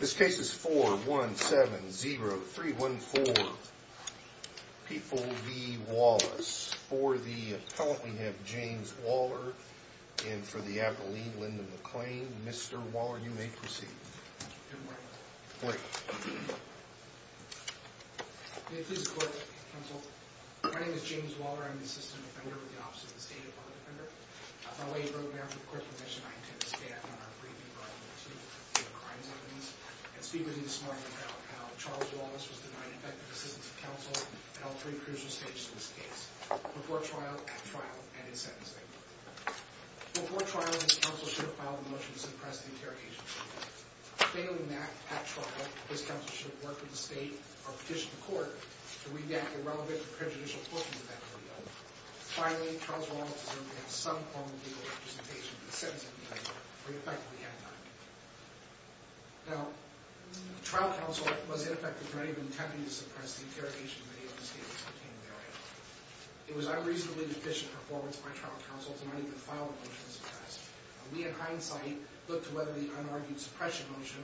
This case is 4-1-7-0-3-1-4. People v. Wallace. For the appellant, we have James Waller. And for the appellee, Linda McClain. Mr. Waller, you may proceed. James Waller Good morning. My name is James Waller. I'm the Assistant Defender with the Office of the State Department Defender. On behalf of the Court Commission, I intend to stand on our briefing on the crimes evidence and speak with you this morning about how Charles Wallace was denied effective assistance of counsel in all three crucial stages of this case. Before trial, at trial, and in sentencing. Before trial, his counsel should have filed a motion to suppress the interrogation committee. Failing that, at trial, his counsel should have worked with the state or petitioned the court to redact the relevant and prejudicial portions of that video. Finally, Charles Wallace assumed he had some form of legal representation in the sentencing committee, where he effectively had none. Now, trial counsel was ineffective in any of the attempts to suppress the interrogation committee on the statements contained therein. It was unreasonably deficient performance by trial counsel to not even file a motion to suppress. We, in hindsight, looked to whether the unargued suppression motion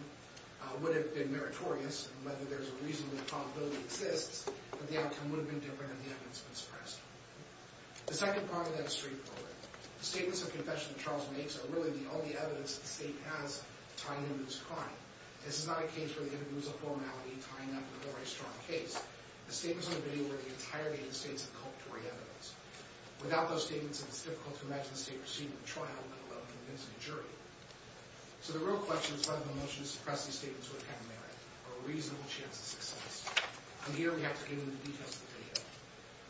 would have been meritorious and whether there's a reasonable probability it exists that the outcome would have been different if the evidence had been suppressed. The second part of that is straightforward. The statements of confession that Charles makes are really the only evidence that the state has tying him to this crime. This is not a case where the evidence was a formality tying up a very strong case. The statements in the video were the entire United States of culpatory evidence. Without those statements, it's difficult to imagine the state receiving a trial without convincing a jury. So the real question is whether the motion to suppress these statements would have merit, or a reasonable chance of success. On here, we have to give you the details of the video.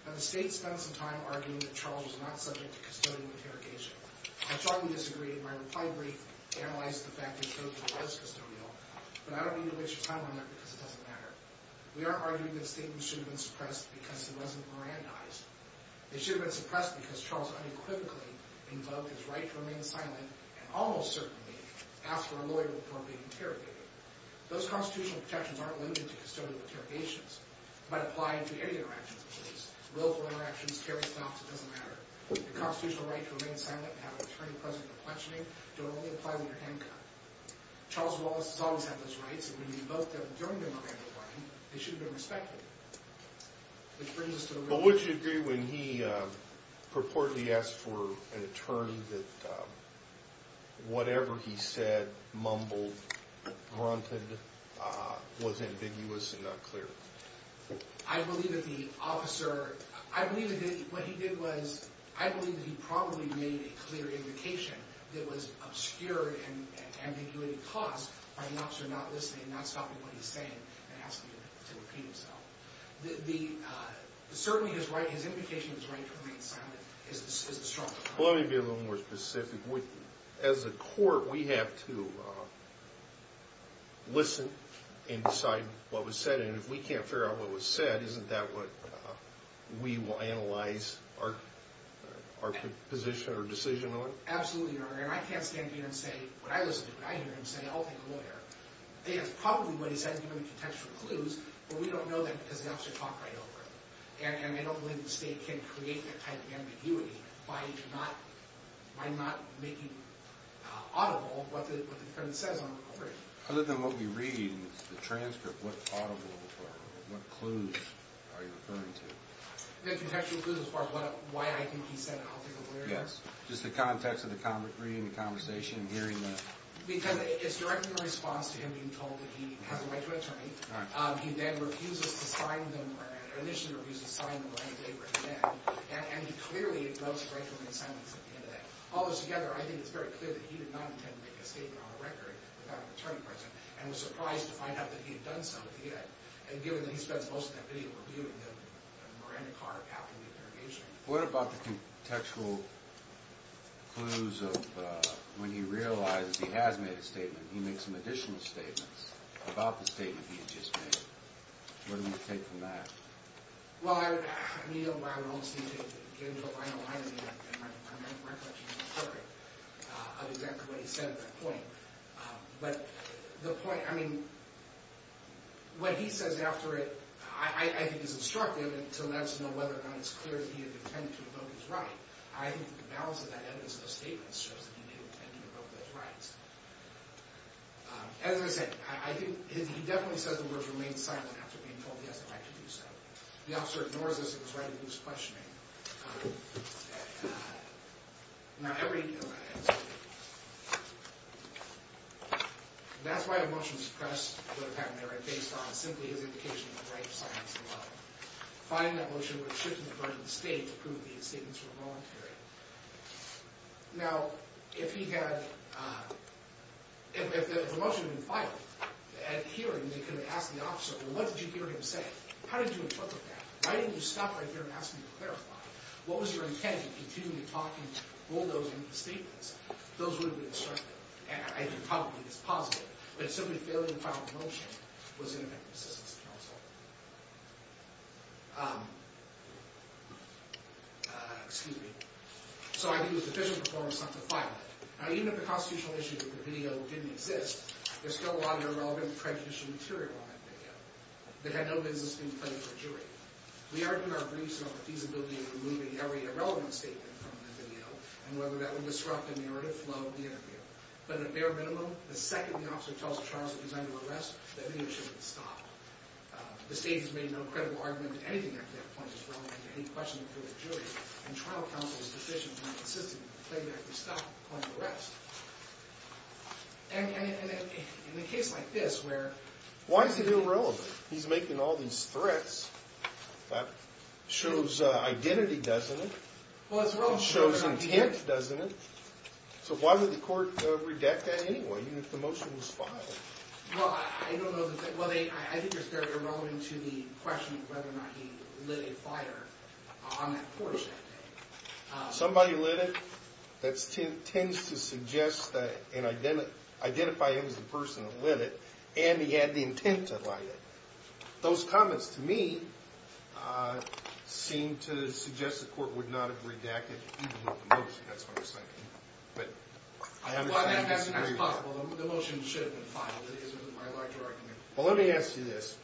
Now, the state spends some time arguing that Charles was not subject to custodial interrogation. I strongly disagree, and my reply brief analyzes the fact that he was custodial, but I don't need to waste your time on that because it doesn't matter. We aren't arguing that the statements should have been suppressed because he wasn't Mirandized. They should have been suppressed because Charles unequivocally invoked his right to remain silent, and almost certainly asked for a lawyer before being interrogated. Those constitutional protections aren't limited to custodial interrogations, but apply to any interactions of police. Willful interactions, carry stops, it doesn't matter. The constitutional right to remain silent and have an attorney present for questioning don't only apply when you're handcuffed. Charles Wallace has always had those rights, and when he invoked them during the Miranda Act, they should have been respected. But would you agree when he purportedly asked for an attorney that whatever he said, mumbled, grunted, was ambiguous and unclear? I believe that the officer, I believe that what he did was, I believe that he probably made a clear indication that was obscured and ambiguity caused by the officer not listening, not stopping what he's saying, and asking him to repeat himself. The, certainly his right, his indication of his right to remain silent is a strong one. Let me be a little more specific. As a court, we have to listen and decide what was said, and if we can't figure out what was said, isn't that what we will analyze our position or decision on? I absolutely agree, and I can't stand here and say what I listen to, what I hear, and say I'll take a lawyer. It's probably what he said, given the contextual clues, but we don't know that because the officer talked right over it. And I don't believe the state can create that type of ambiguity by not making audible what the defendant says on record. Other than what we read, the transcript, what audible, what clues are you referring to? The contextual clues as far as why I think he said, I'll take a lawyer. Yes, just the context of the reading, the conversation, and hearing that. Because it's directly in response to him being told that he has a right to an attorney. He then refuses to sign them, or initially refuses to sign them, or anything like that. And clearly, it goes directly to silence at the end of that. All those together, I think it's very clear that he did not intend to make a statement on the record without an attorney present, and was surprised to find out that he had done so. And given that he spends most of that video reviewing the Miranda card after the interrogation. What about the contextual clues of when he realizes he has made a statement, he makes some additional statements about the statement he had just made. What do you take from that? Well, I mean, I would almost think that he was getting to the line of mind of me, and my recollection is perfect, of exactly what he said at that point. But the point, I mean, what he says after it, I think is instructive, and to let us know whether or not it's clear that he had intended to evoke his right. I think the balance of that evidence of the statement shows that he did intend to evoke those rights. As I said, I think he definitely says the words remain silent after being told he has the right to do so. The officer ignores this and is right in his questioning. Now, that's why a motion to press would have happened there, and based on simply his indication of the right to silence the law. Finding that motion would have shifted the burden of the state to prove these statements were voluntary. Now, if he had, if the motion had been filed at hearing, they could have asked the officer, well, what did you hear him say? How did you interpret that? Why didn't you stop right there and ask him to clarify? What was your intent in continuing to talk and bulldoze into the statements? Those would have been instructive, and I think probably it's positive. But simply failing to file the motion was ineffective assistance to counsel. Excuse me. So I think it was efficient performance not to file it. Now, even if the constitutional issue of the video didn't exist, there's still a lot of irrelevant prejudicial material on that video. It had no business being played to a jury. We argued our briefs about the feasibility of removing every irrelevant statement from the video and whether that would disrupt the narrative flow of the interview. But at bare minimum, the second the officer tells Charles that he's under arrest, that video shouldn't stop. The state has made no credible argument that anything after that point is relevant to any questioning through a jury. And trial counsel is deficient in insisting that the playback be stopped upon arrest. And in a case like this where... Why is it irrelevant? He's making all these threats. That shows identity, doesn't it? Well, it's relevant... It shows intent, doesn't it? So why would the court redact that anyway, even if the motion was filed? Well, I don't know... Well, I think it's very irrelevant to the question of whether or not he lit a fire on that porch that day. Somebody lit it? That tends to suggest and identify him as the person who lit it, and he had the intent to light it. Those comments, to me, seem to suggest the court would not have redacted even with the motion. That's what I'm thinking. Well, that's possible. The motion should have been filed. It isn't my larger argument. Well, let me ask you this.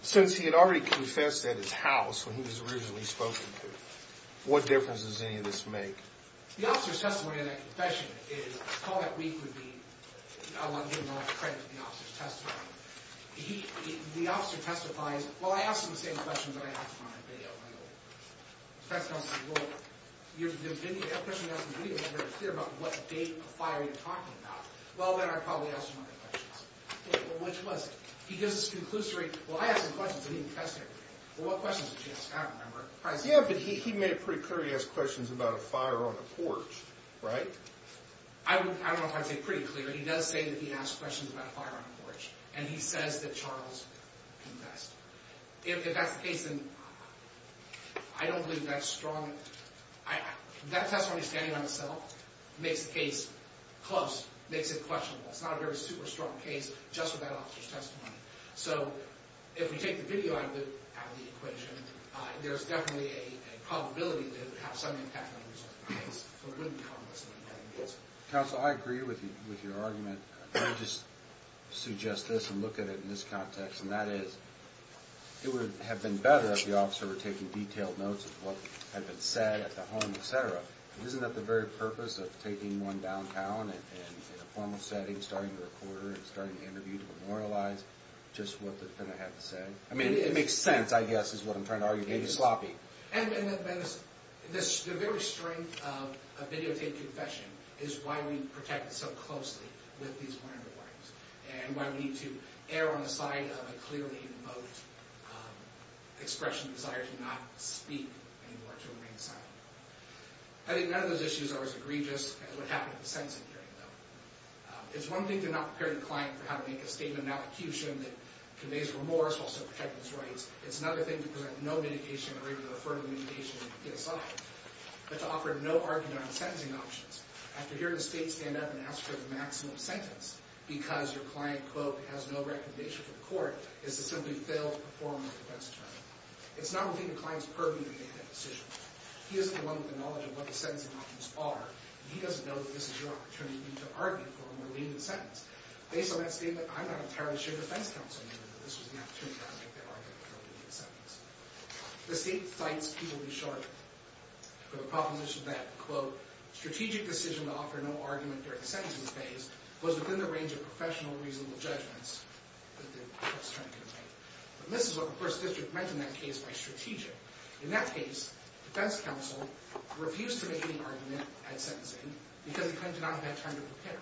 Since he had already confessed at his house, when he was originally spoken to, what difference does any of this make? The officer's testimony in that confession is... All that week would be... I want to give him all the credit for the officer's testimony. The officer testifies... Well, I asked him the same question that I asked him on that video. The defense counsel said, you have a question you asked on the video, but you're not very clear about what date of fire you're talking about. Well, then I'd probably ask him other questions. Well, which was? He gives this conclusory... Well, I asked him questions, but he confessed to everything. Well, what questions did he ask? I don't remember. Yeah, but he made it pretty clear he asked questions about a fire on a porch, right? I don't know if I'd say pretty clear. He does say that he asked questions about a fire on a porch. And he says that Charles confessed. If that's the case, then... I don't believe that strong... That testimony standing by itself makes the case close, makes it questionable. It's not a very super strong case just with that officer's testimony. So, if we take the video out of the equation, there's definitely a probability that it would have some impact on the result of the case, but it wouldn't be complex enough to get an answer. Counsel, I agree with your argument. Let me just suggest this and look at it in this context, and that is, it would have been better if the officer were taking detailed notes of what had been said at the home, et cetera. Isn't that the very purpose of taking one downtown in a formal setting, starting to record and starting to interview to memorialize just what the defendant had to say? I mean, it makes sense, I guess, is what I'm trying to argue. Maybe it's sloppy. And the very strength of a videotaped confession is why we protect it so closely with these wonderful items, and why we need to err on the side of a clearly evoked expression of desire to not speak anymore, to remain silent. I think none of those issues are as egregious as what happened at the sentencing hearing, though. It's one thing to not prepare your client for how to make a statement of malecution that conveys remorse, while still protecting his rights. It's another thing to present no mitigation, or even a further mitigation, to the assault. But to offer no argument on the sentencing options, after hearing the state stand up and ask for the maximum sentence, because your client, quote, has no recommendation for the court, is to simply fail to perform a defense attorney. It's not only the client's purview to make that decision. He isn't the one with the knowledge of what the sentencing options are, and he doesn't know that this is your opportunity to argue for him to leave the sentence. Based on that statement, I'm not entirely sure the defense counsel knew that this was the opportunity to make their argument for him to leave the sentence. The state cites, to be short, for the proposition that, quote, strategic decision to offer no argument during the sentencing phase goes within the range of professional, reasonable judgments that the defense attorney can make. And this is what the first district meant in that case by strategic. In that case, defense counsel refused to make any argument at sentencing because he claimed to not have had time to prepare.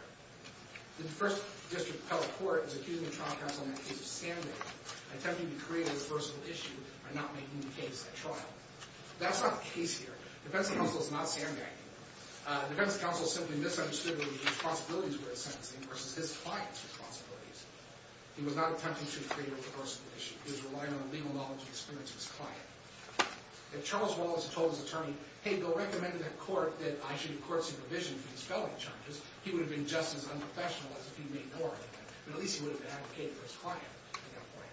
The first district appellate court is accusing the trial counsel in that case of sandbagging, attempting to create a reversible issue by not making the case at trial. That's not the case here. Defense counsel is not sandbagging. Defense counsel simply misunderstood what his responsibilities were at sentencing versus his client's responsibilities. He was not attempting to create a reversible issue. He was relying on the legal knowledge and experience of his client. If Charles Wallace had told his attorney, hey, go recommend to that court that I should court supervision for these felony charges, he would have been just as unprofessional as if he'd made more of them. But at least he would have advocated for his client at that point.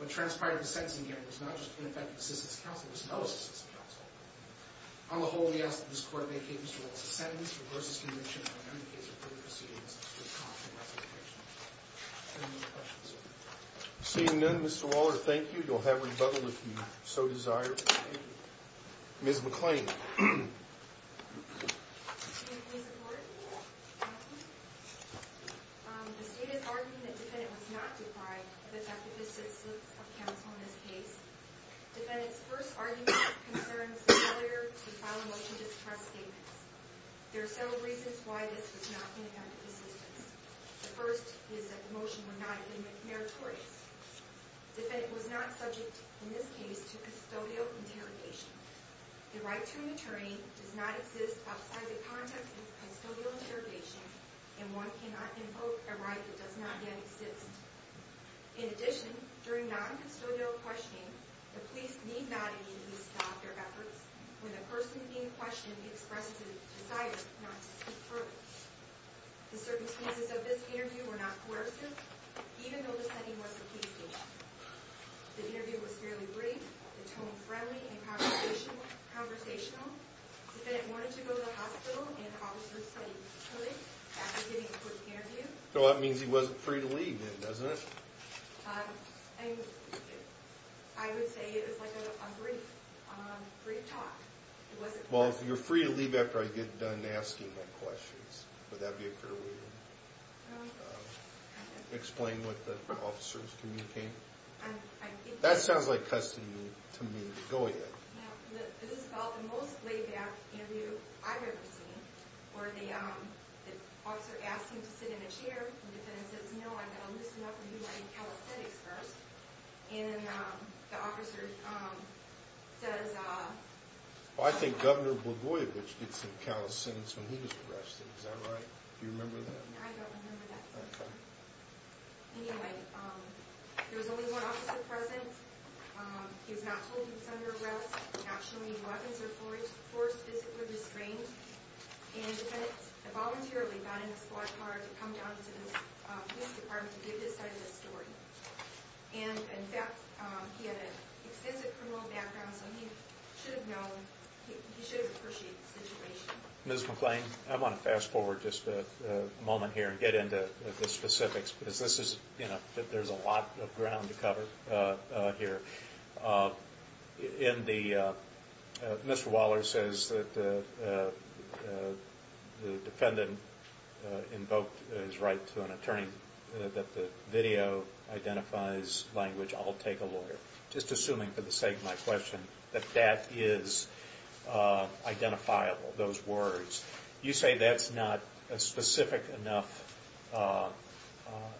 What transpired at the sentencing, again, was not just ineffective assistance counsel. It was no assistance counsel. On the whole, we ask that this court make Mr. Wallace's sentence versus conviction on any case of further proceedings to a constant resolution. Any more questions? Seeing none, Mr. Waller, thank you. You'll have rebuttal if you so desire. Thank you. Ms. McClain. Can you please record? Can I please? The state is arguing that defendant was not defied of effective assistance of counsel in this case. Defendant's first argument of concern was the failure to file a motion to suppress statements. There are several reasons why this was not ineffective assistance. The first is that the motion would not have been meritorious. Defendant was not subject, in this case, to custodial interrogation. The right to an attorney does not exist outside the context of custodial interrogation, and one cannot invoke a right that does not yet exist. In addition, during non-custodial questioning, the police need not immediately stop their efforts when the person being questioned expresses a desire not to speak further. The circumstances of this interview were not coercive, even though the setting was a case meeting. The interview was fairly brief, the tone friendly and conversational. Defendant wanted to go to the hospital and the officers said he could after giving a quick interview. So that means he wasn't free to leave then, doesn't it? I would say it was like a brief talk. Well, if you're free to leave after I get done asking my questions, would that be a fair way to explain what the officers communicated? That sounds like custody to me. Go ahead. This is about the most laid-back interview I've ever seen, where the officer asks him to sit in a chair, the defendant says, no, I've got to loosen up and do my calisthenics first, and the officer says... I think Governor Blagojevich did some calisthenics when he was arrested, is that right? Do you remember that? I don't remember that. Anyway, there was only one officer present, he was not told he was under arrest, not shown any weapons or force, physically restrained, and the defendant voluntarily got in a squad car to come down to the police department to give this side of the story. And in fact, he had an extensive criminal background, so he should have known, he should have appreciated the situation. Ms. McClain, I want to fast-forward just a moment here and get into the specifics, because this is, you know, there's a lot of ground to cover here. In the... Mr. Waller says that the defendant invoked his right to an attorney, and that the video identifies language, I'll take a lawyer, just assuming for the sake of my question that that is identifiable, those words. You say that's not a specific enough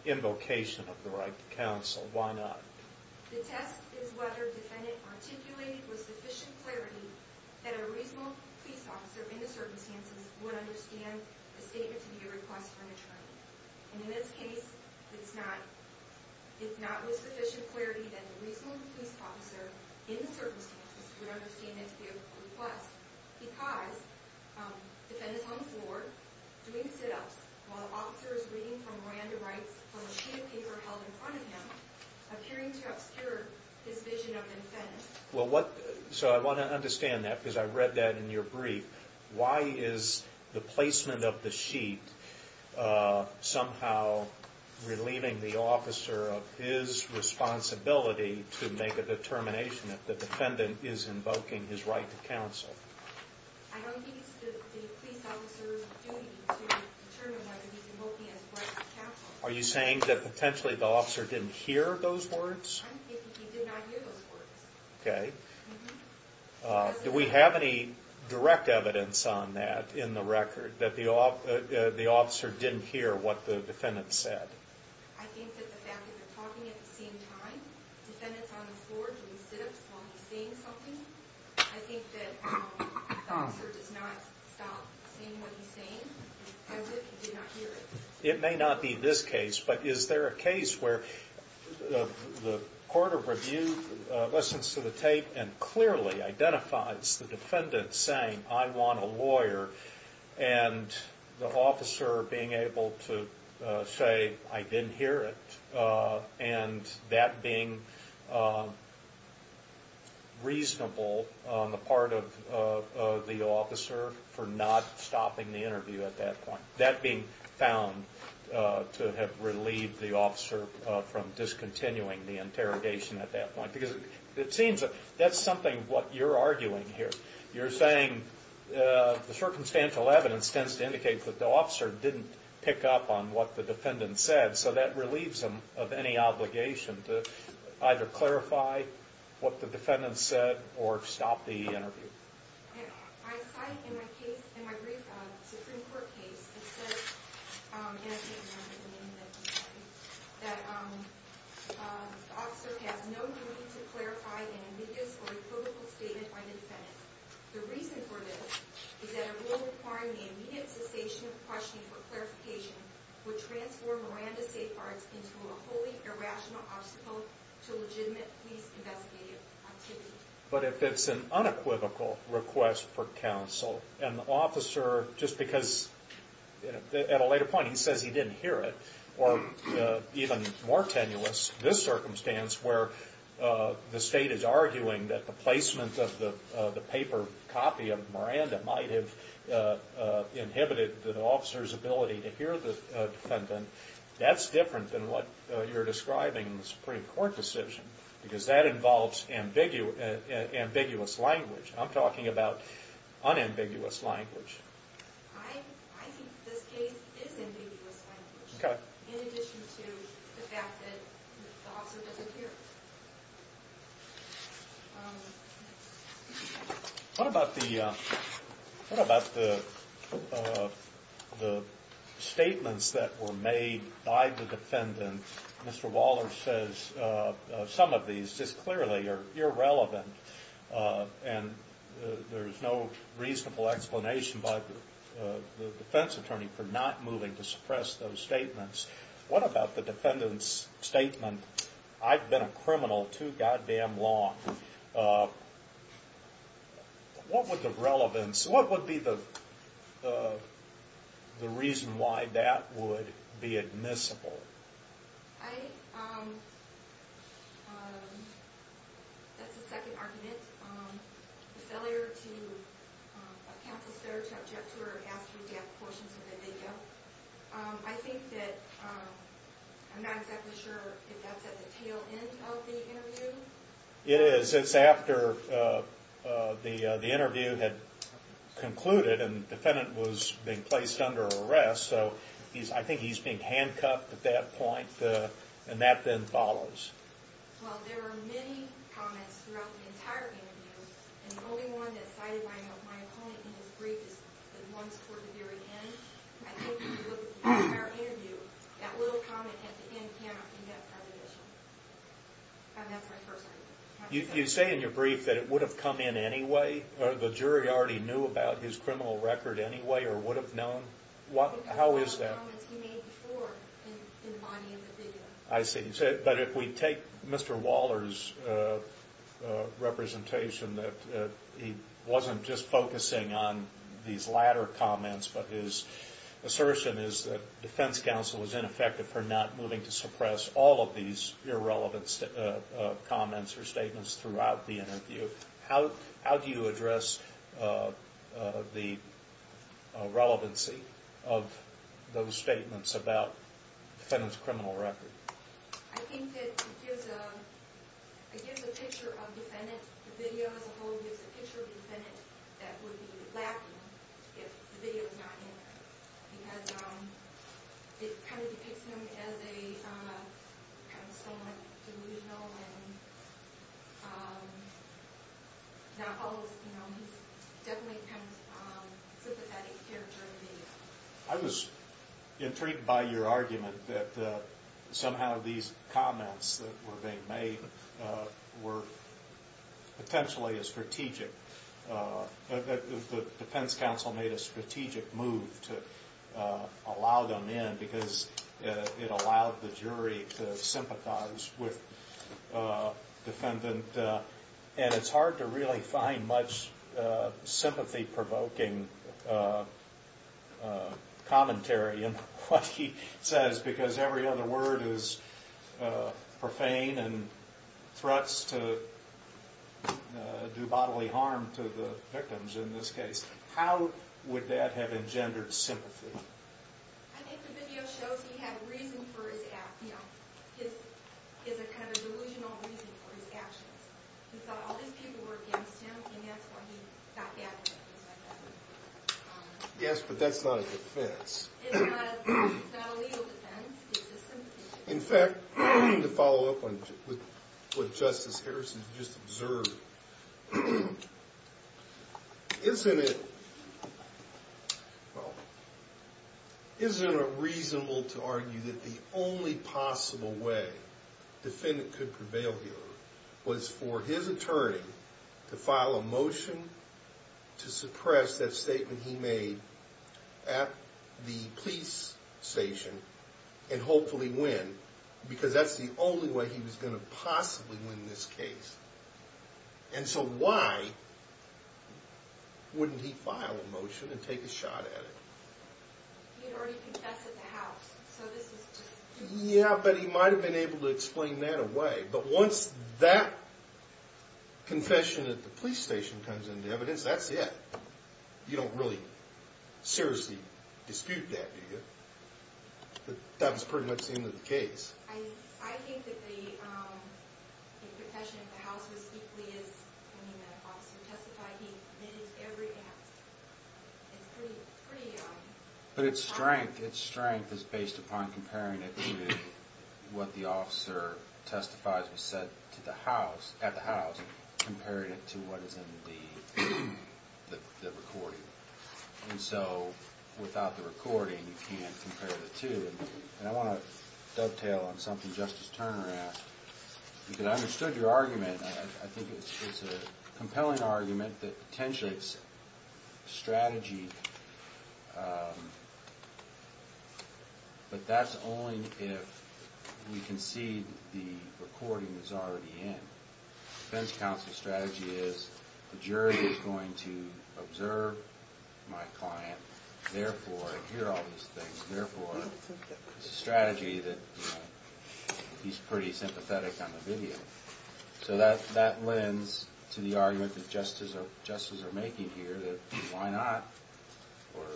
invocation of the right to counsel. Why not? The test is whether the defendant articulated with sufficient clarity that a reasonable police officer in the circumstances would understand a statement to be a request for an attorney. In this case, it's not with sufficient clarity that the reasonable police officer in the circumstances would understand it to be a request, because the defendant hung forward, doing sit-ups, while the officer is reading from Miranda Rights from a sheet of paper held in front of him, appearing to obscure his vision of an offense. Well, what... so I want to understand that, because I read that in your brief. Why is the placement of the sheet somehow relieving the officer of his responsibility to make a determination that the defendant is invoking his right to counsel? I don't think it's the police officer's duty to determine whether he's invoking his right to counsel. Are you saying that potentially the officer didn't hear those words? I'm thinking he did not hear those words. Okay. Do we have any direct evidence on that in the record, that the officer didn't hear what the defendant said? I think that the fact that they're talking at the same time, the defendant's on the floor doing sit-ups while he's seeing something, I think that the officer does not stop seeing what he's seeing. I think he did not hear it. It may not be this case, but is there a case where the court of review listens to the tape and clearly identifies the defendant saying, I want a lawyer, and the officer being able to say, I didn't hear it, and that being reasonable on the part of the officer for not stopping the interview at that point. That being found to have relieved the officer from discontinuing the interrogation at that point. Because it seems that's something, what you're arguing here. The circumstantial evidence tends to indicate that the officer didn't pick up on what the defendant said, so that relieves him of any obligation to either clarify what the defendant said or stop the interview. I cite in my brief Supreme Court case, it says in a statement, that the officer has no duty to clarify an ambiguous or equivocal statement by the defendant. The reason for this is that a rule requiring the immediate cessation of questioning for clarification would transform Miranda's safeguards into a wholly irrational obstacle to legitimate police investigative activity. But if it's an unequivocal request for counsel, and the officer, just because at a later point he says he didn't hear it, or even more tenuous, this circumstance where the state is arguing that the placement of the paper copy of Miranda might have inhibited the officer's ability to hear the defendant, that's different than what you're describing in the Supreme Court decision, because that involves ambiguous language. I'm talking about unambiguous language. I think this case is ambiguous language, in addition to the fact that the officer doesn't hear it. What about the statements that were made by the defendant? Mr. Waller says some of these just clearly are irrelevant, and there's no reasonable explanation by the defense attorney for not moving to suppress those statements. What about the defendant's statement, I've been a criminal too goddamn long. What would the relevance, what would be the reason why that would be admissible? I, um, that's the second argument. The failure to account for stereotypes or ask for death quotients in the video. I think that, um, I'm not exactly sure if that's at the tail end of the interview. It is, it's after the interview had concluded and the defendant was being placed under arrest, so I think he's being handcuffed at that point, and that then follows. Well, there are many comments throughout the entire interview, and the only one that's cited by my opponent in his brief is the ones toward the very end. And I think in the entire interview, that little comment at the end cannot be that part of the issue. And that's my first argument. You say in your brief that it would have come in anyway, or the jury already knew about his criminal record anyway, or would have known. How is that? Because of the comments he made before in the body of the video. I see, but if we take Mr. Waller's representation that he wasn't just focusing on these latter comments, but his assertion is that defense counsel is ineffective for not moving to suppress all of these irrelevant comments or statements throughout the interview. How do you address the relevancy of those statements about the defendant's criminal record? I think that it gives a picture of the defendant. The video as a whole gives a picture of the defendant that would be lacking if the video was not in there. Because it kind of depicts him as a somewhat delusional and not always, you know, he's definitely kind of sympathetic character in the video. I was intrigued by your argument that somehow these comments that were being made were potentially a strategic, that the defense counsel made a strategic move to allow them in because it allowed the jury to sympathize with the defendant. And it's hard to really find much sympathy-provoking commentary in what he says because every other word is profane and threats to do bodily harm to the victims in this case. How would that have engendered sympathy? I think the video shows he had a reason for his actions. He has a kind of delusional reason for his actions. He thought all these people were against him and that's why he got back at them. Yes, but that's not a defense. It's not a legal defense. It's a sympathy defense. In fact, to follow up on what Justice Harrison just observed, isn't it, well, isn't it reasonable to argue that the only possible way the defendant could prevail here was for his attorney to file a motion to suppress that statement he made at the police station and hopefully win? Because that's the only way he was going to possibly win this case. And so why wouldn't he file a motion and take a shot at it? He had already confessed at the house, so this is just... Yeah, but he might have been able to explain that away. But once that confession at the police station comes into evidence, that's it. You don't really seriously dispute that, do you? But that was pretty much the end of the case. I think that the confession at the house was equally as... I mean, the officer testified he admitted to everything at the house. It's pretty... But its strength is based upon comparing it to what the officer testifies was said at the house compared to what is in the recording. And so, without the recording, you can't compare the two. And I want to dovetail on something Justice Turner asked. Because I understood your argument. I think it's a compelling argument that potentially it's a strategy. But that's only if we concede the recording is already in. The defense counsel's strategy is the jury is going to observe my client, therefore hear all these things, therefore it's a strategy that he's pretty sympathetic on the video. So that lends to the argument that justices are making here. Why not... Or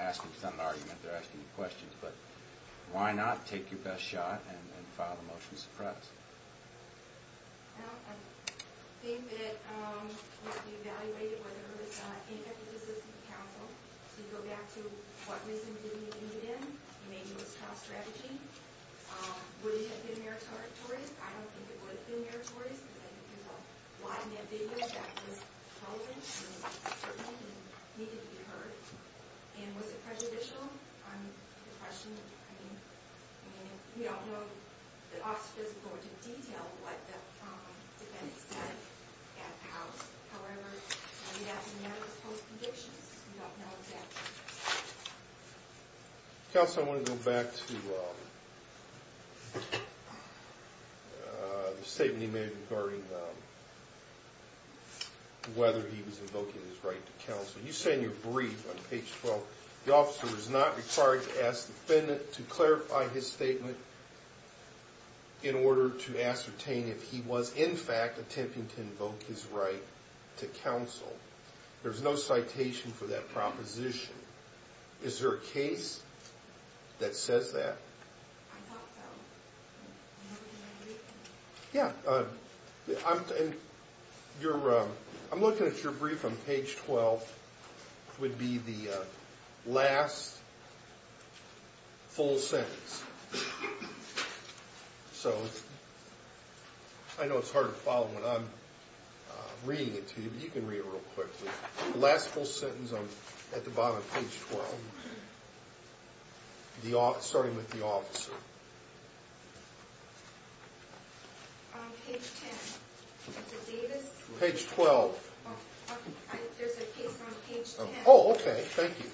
asking some argument, they're asking questions. But why not take your best shot and file a motion to suppress? Well, I think that... We evaluated whether there was any emphasis in the counsel to go back to what reason did he do it in. Maybe it was child strategy. Would it have been meritorious? I don't think it would have been meritorious. Because I think there's a lot in that video that was relevant and certainly needed to be heard. And was it prejudicial? I mean, the question... I mean, we don't know the office of physical origin detail what the defendant said at the house. However, I mean, that's a matter of post-conditions. We don't know exactly. Counsel, I want to go back to... the statement he made regarding whether he was invoking his right to counsel. You say in your brief on page 12, the officer is not required to ask the defendant to clarify his statement in order to ascertain if he was, in fact, attempting to invoke his right to counsel. There's no citation for that proposition. Is there a case that says that? Yeah. I'm looking at your brief on page 12 which would be the last full sentence. So... I know it's hard to follow when I'm reading it to you, but you can read it real quickly. The last full sentence at the bottom of page 12. Starting with the officer. Page 10. Is it Davis? Page 12. Oh, okay. Thank you.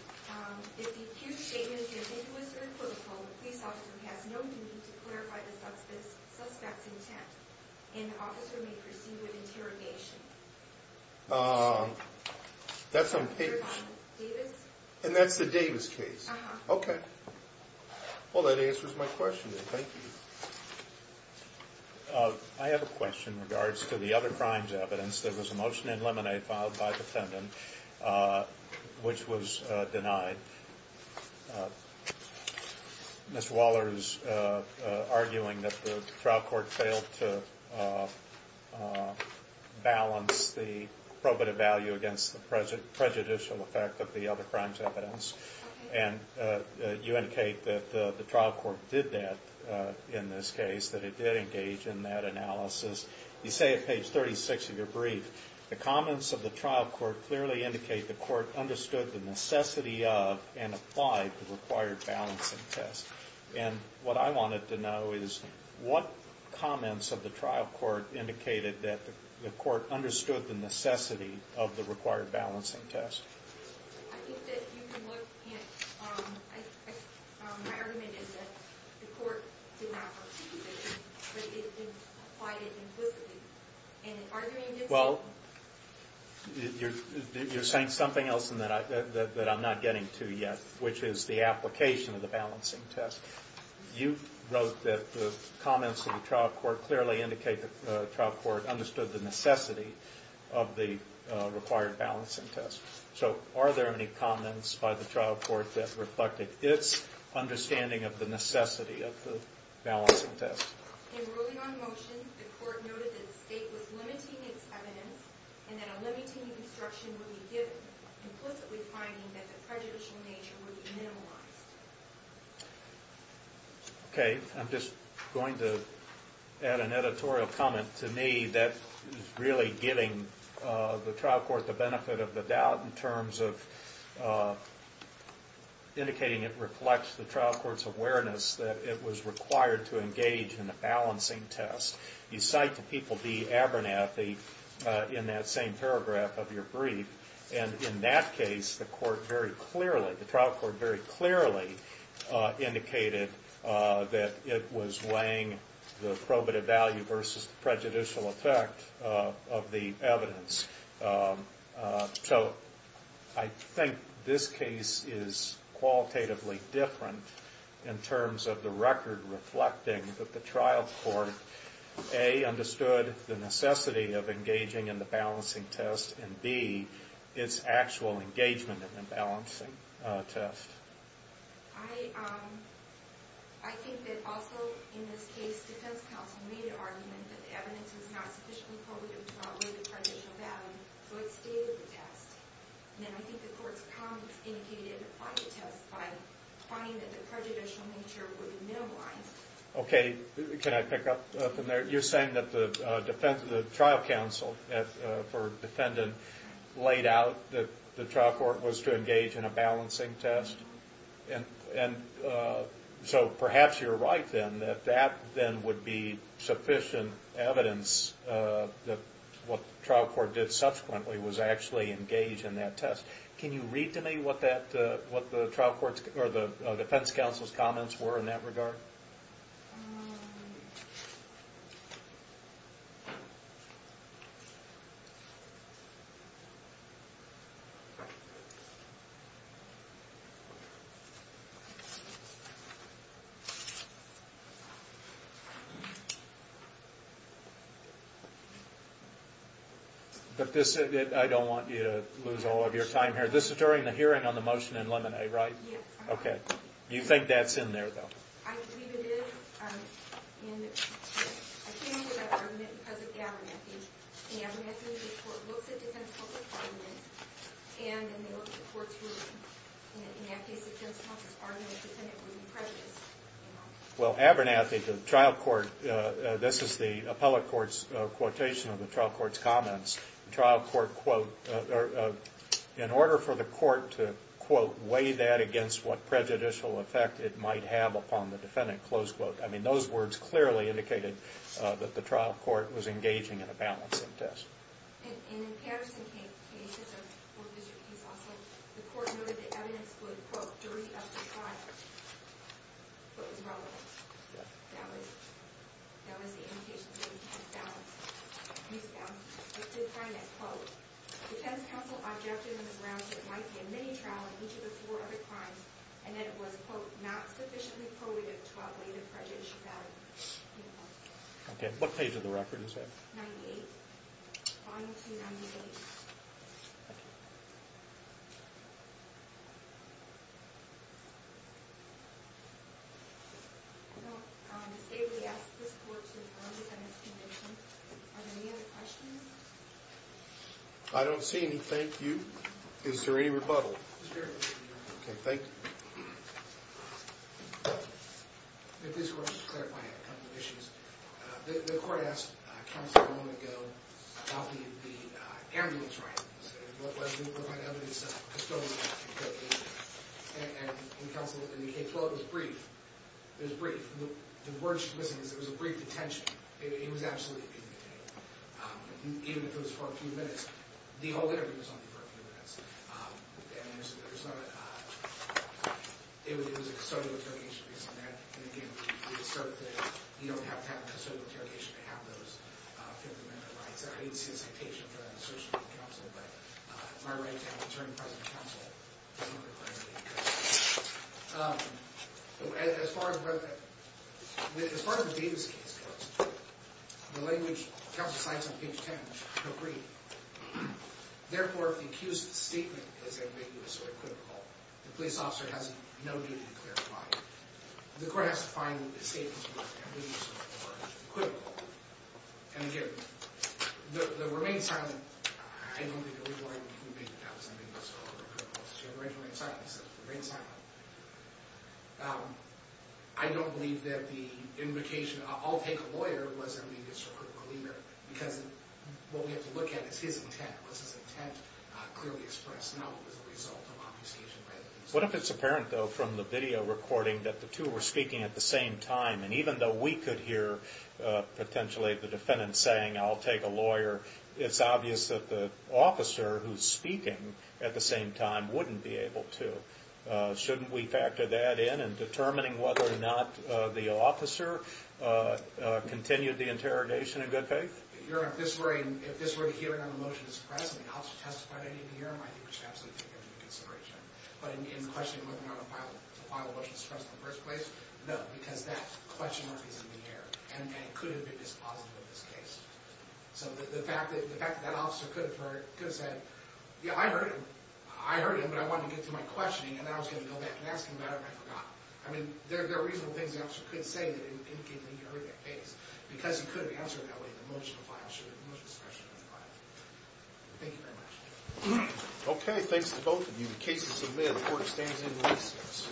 That's on page... And that's the Davis case? Okay. Well, that answers my question, then. Thank you. I have a question in regards to the other crimes evidence. There was a motion in Lemonade filed by the defendant which was denied. Mr. Waller is arguing that the trial court failed to balance the probative value against the prejudicial effect of the other crimes evidence. And you indicate that the trial court did that in this case, that it did engage in that analysis. You say at page 36 of your brief, the comments of the trial court clearly indicate the court understood the necessity of and applied the required balancing test. And what I wanted to know is what comments of the trial court indicated that the court understood the necessity of the required balancing test? I think that you can look at... My argument is that the court did not participate but it did apply it implicitly. And are you indicating... Well, you're saying something else that I'm not getting to yet, which is the application of the balancing test. You wrote that the comments of the trial court clearly indicate the trial court understood the necessity of the required balancing test. So are there any comments by the trial court that reflected its understanding of the necessity of the balancing test? In ruling on motion, the court noted that the state was limiting its evidence and that a limiting instruction would be given, implicitly finding that the prejudicial nature would be minimized. Okay. I'm just going to add an editorial comment to me that is really giving the trial court the benefit of the doubt in terms of indicating it reflects the trial court's awareness that it was required to engage in a balancing test. You cite to people the Abernathy in that same paragraph of your brief. And in that case, the court very clearly, the trial court very clearly indicated that it was weighing the probative value versus prejudicial effect of the evidence. So I think this case is qualitatively different in terms of the record reflecting that the trial court, A, understood the necessity of engaging in the balancing test, and B, its actual engagement in the balancing test. I think that also in this case, defense counsel made an argument that the evidence was not sufficiently probative to outweigh the prejudicial value, so it stayed with the test. And then I think the court's comments indicated it applied the test by finding that the prejudicial nature would be minimized. Okay, can I pick up from there? You're saying that the trial counsel for defendant laid out that the trial court was to engage in a balancing test? And so perhaps you're right then, that that then would be sufficient evidence that what the trial court did subsequently was actually engage in that test. Can you read to me what the trial court's, or the defense counsel's comments were in that regard? Um... But this, I don't want you to lose all of your time here. This is during the hearing on the motion in Lemonade, right? Yes. Okay. You think that's in there, though? I believe it is. And I came to that argument because of Abernathy. In Abernathy, the court looks at defense counsel's arguments, and then they look at the court's ruling. In that case, the defense counsel's argument that the defendant would be prejudiced. Well, Abernathy, the trial court, this is the appellate court's quotation of the trial court's comments. The trial court, quote, in order for the court to, quote, weigh that against what prejudicial effect it might have upon the defendant, close quote. I mean, those words clearly indicated that the trial court was engaging in a balancing test. Okay. What page of the record is that? I don't see any thank you. Is there any rebuttal? Okay. Thank you. If this court is clarifying a couple of issues, the court asked counsel a moment ago about the ambulance ride. What was the evidence of custodial activity? And counsel indicated, well, it was brief. It was brief. The word she's missing is it was a brief detention. It was absolutely a brief detention. Even if it was for a few minutes, the whole interview was only for a few minutes. And there's not a... It was a custodial interrogation based on that. And, again, we assert that you don't have to have a custodial interrogation to have those 50 minute rides. I didn't see a citation for that in the search warrant from counsel, but my right to have an attorney present at counsel is not a priority. As far as... As far as the Davis case goes, the language counsel cites on page 10 was no brief. Therefore, if the accused's statement is that maybe it was sort of critical, the police officer has no need to clarify it. The court has to find the statement that maybe it was sort of critical. And, again, the remain silent... I don't think a legal argument can make that that was something that was sort of critical. She had remain silent. He said it was remain silent. I don't believe that the invocation... I'll take a lawyer was that maybe it was sort of critical either because what we have to look at is his intent. Was his intent clearly expressed? And that's not what was the result of obfuscation by the police officer. What if it's apparent, though, from the video recording that the two were speaking at the same time and even though we could hear potentially the defendant saying, I'll take a lawyer, it's obvious that the officer who's speaking at the same time wouldn't be able to. Shouldn't we factor that in in determining whether or not the officer continued the interrogation in good faith? I would absolutely take that into consideration. But in questioning whether or not the file was suppressed in the first place, no, because that question mark is in the air and it could have been dispositive of this case. So the fact that that officer could have said, yeah, I heard him. I heard him, but I wanted to get to my questioning and I was going to go back and ask him about it and I forgot. I mean, there are reasonable things the officer could say that indicate that he heard that case because he could have answered it that way in the motion of file. Thank you very much. Okay, thanks to both of you. The case is submitted. The court stands in recess.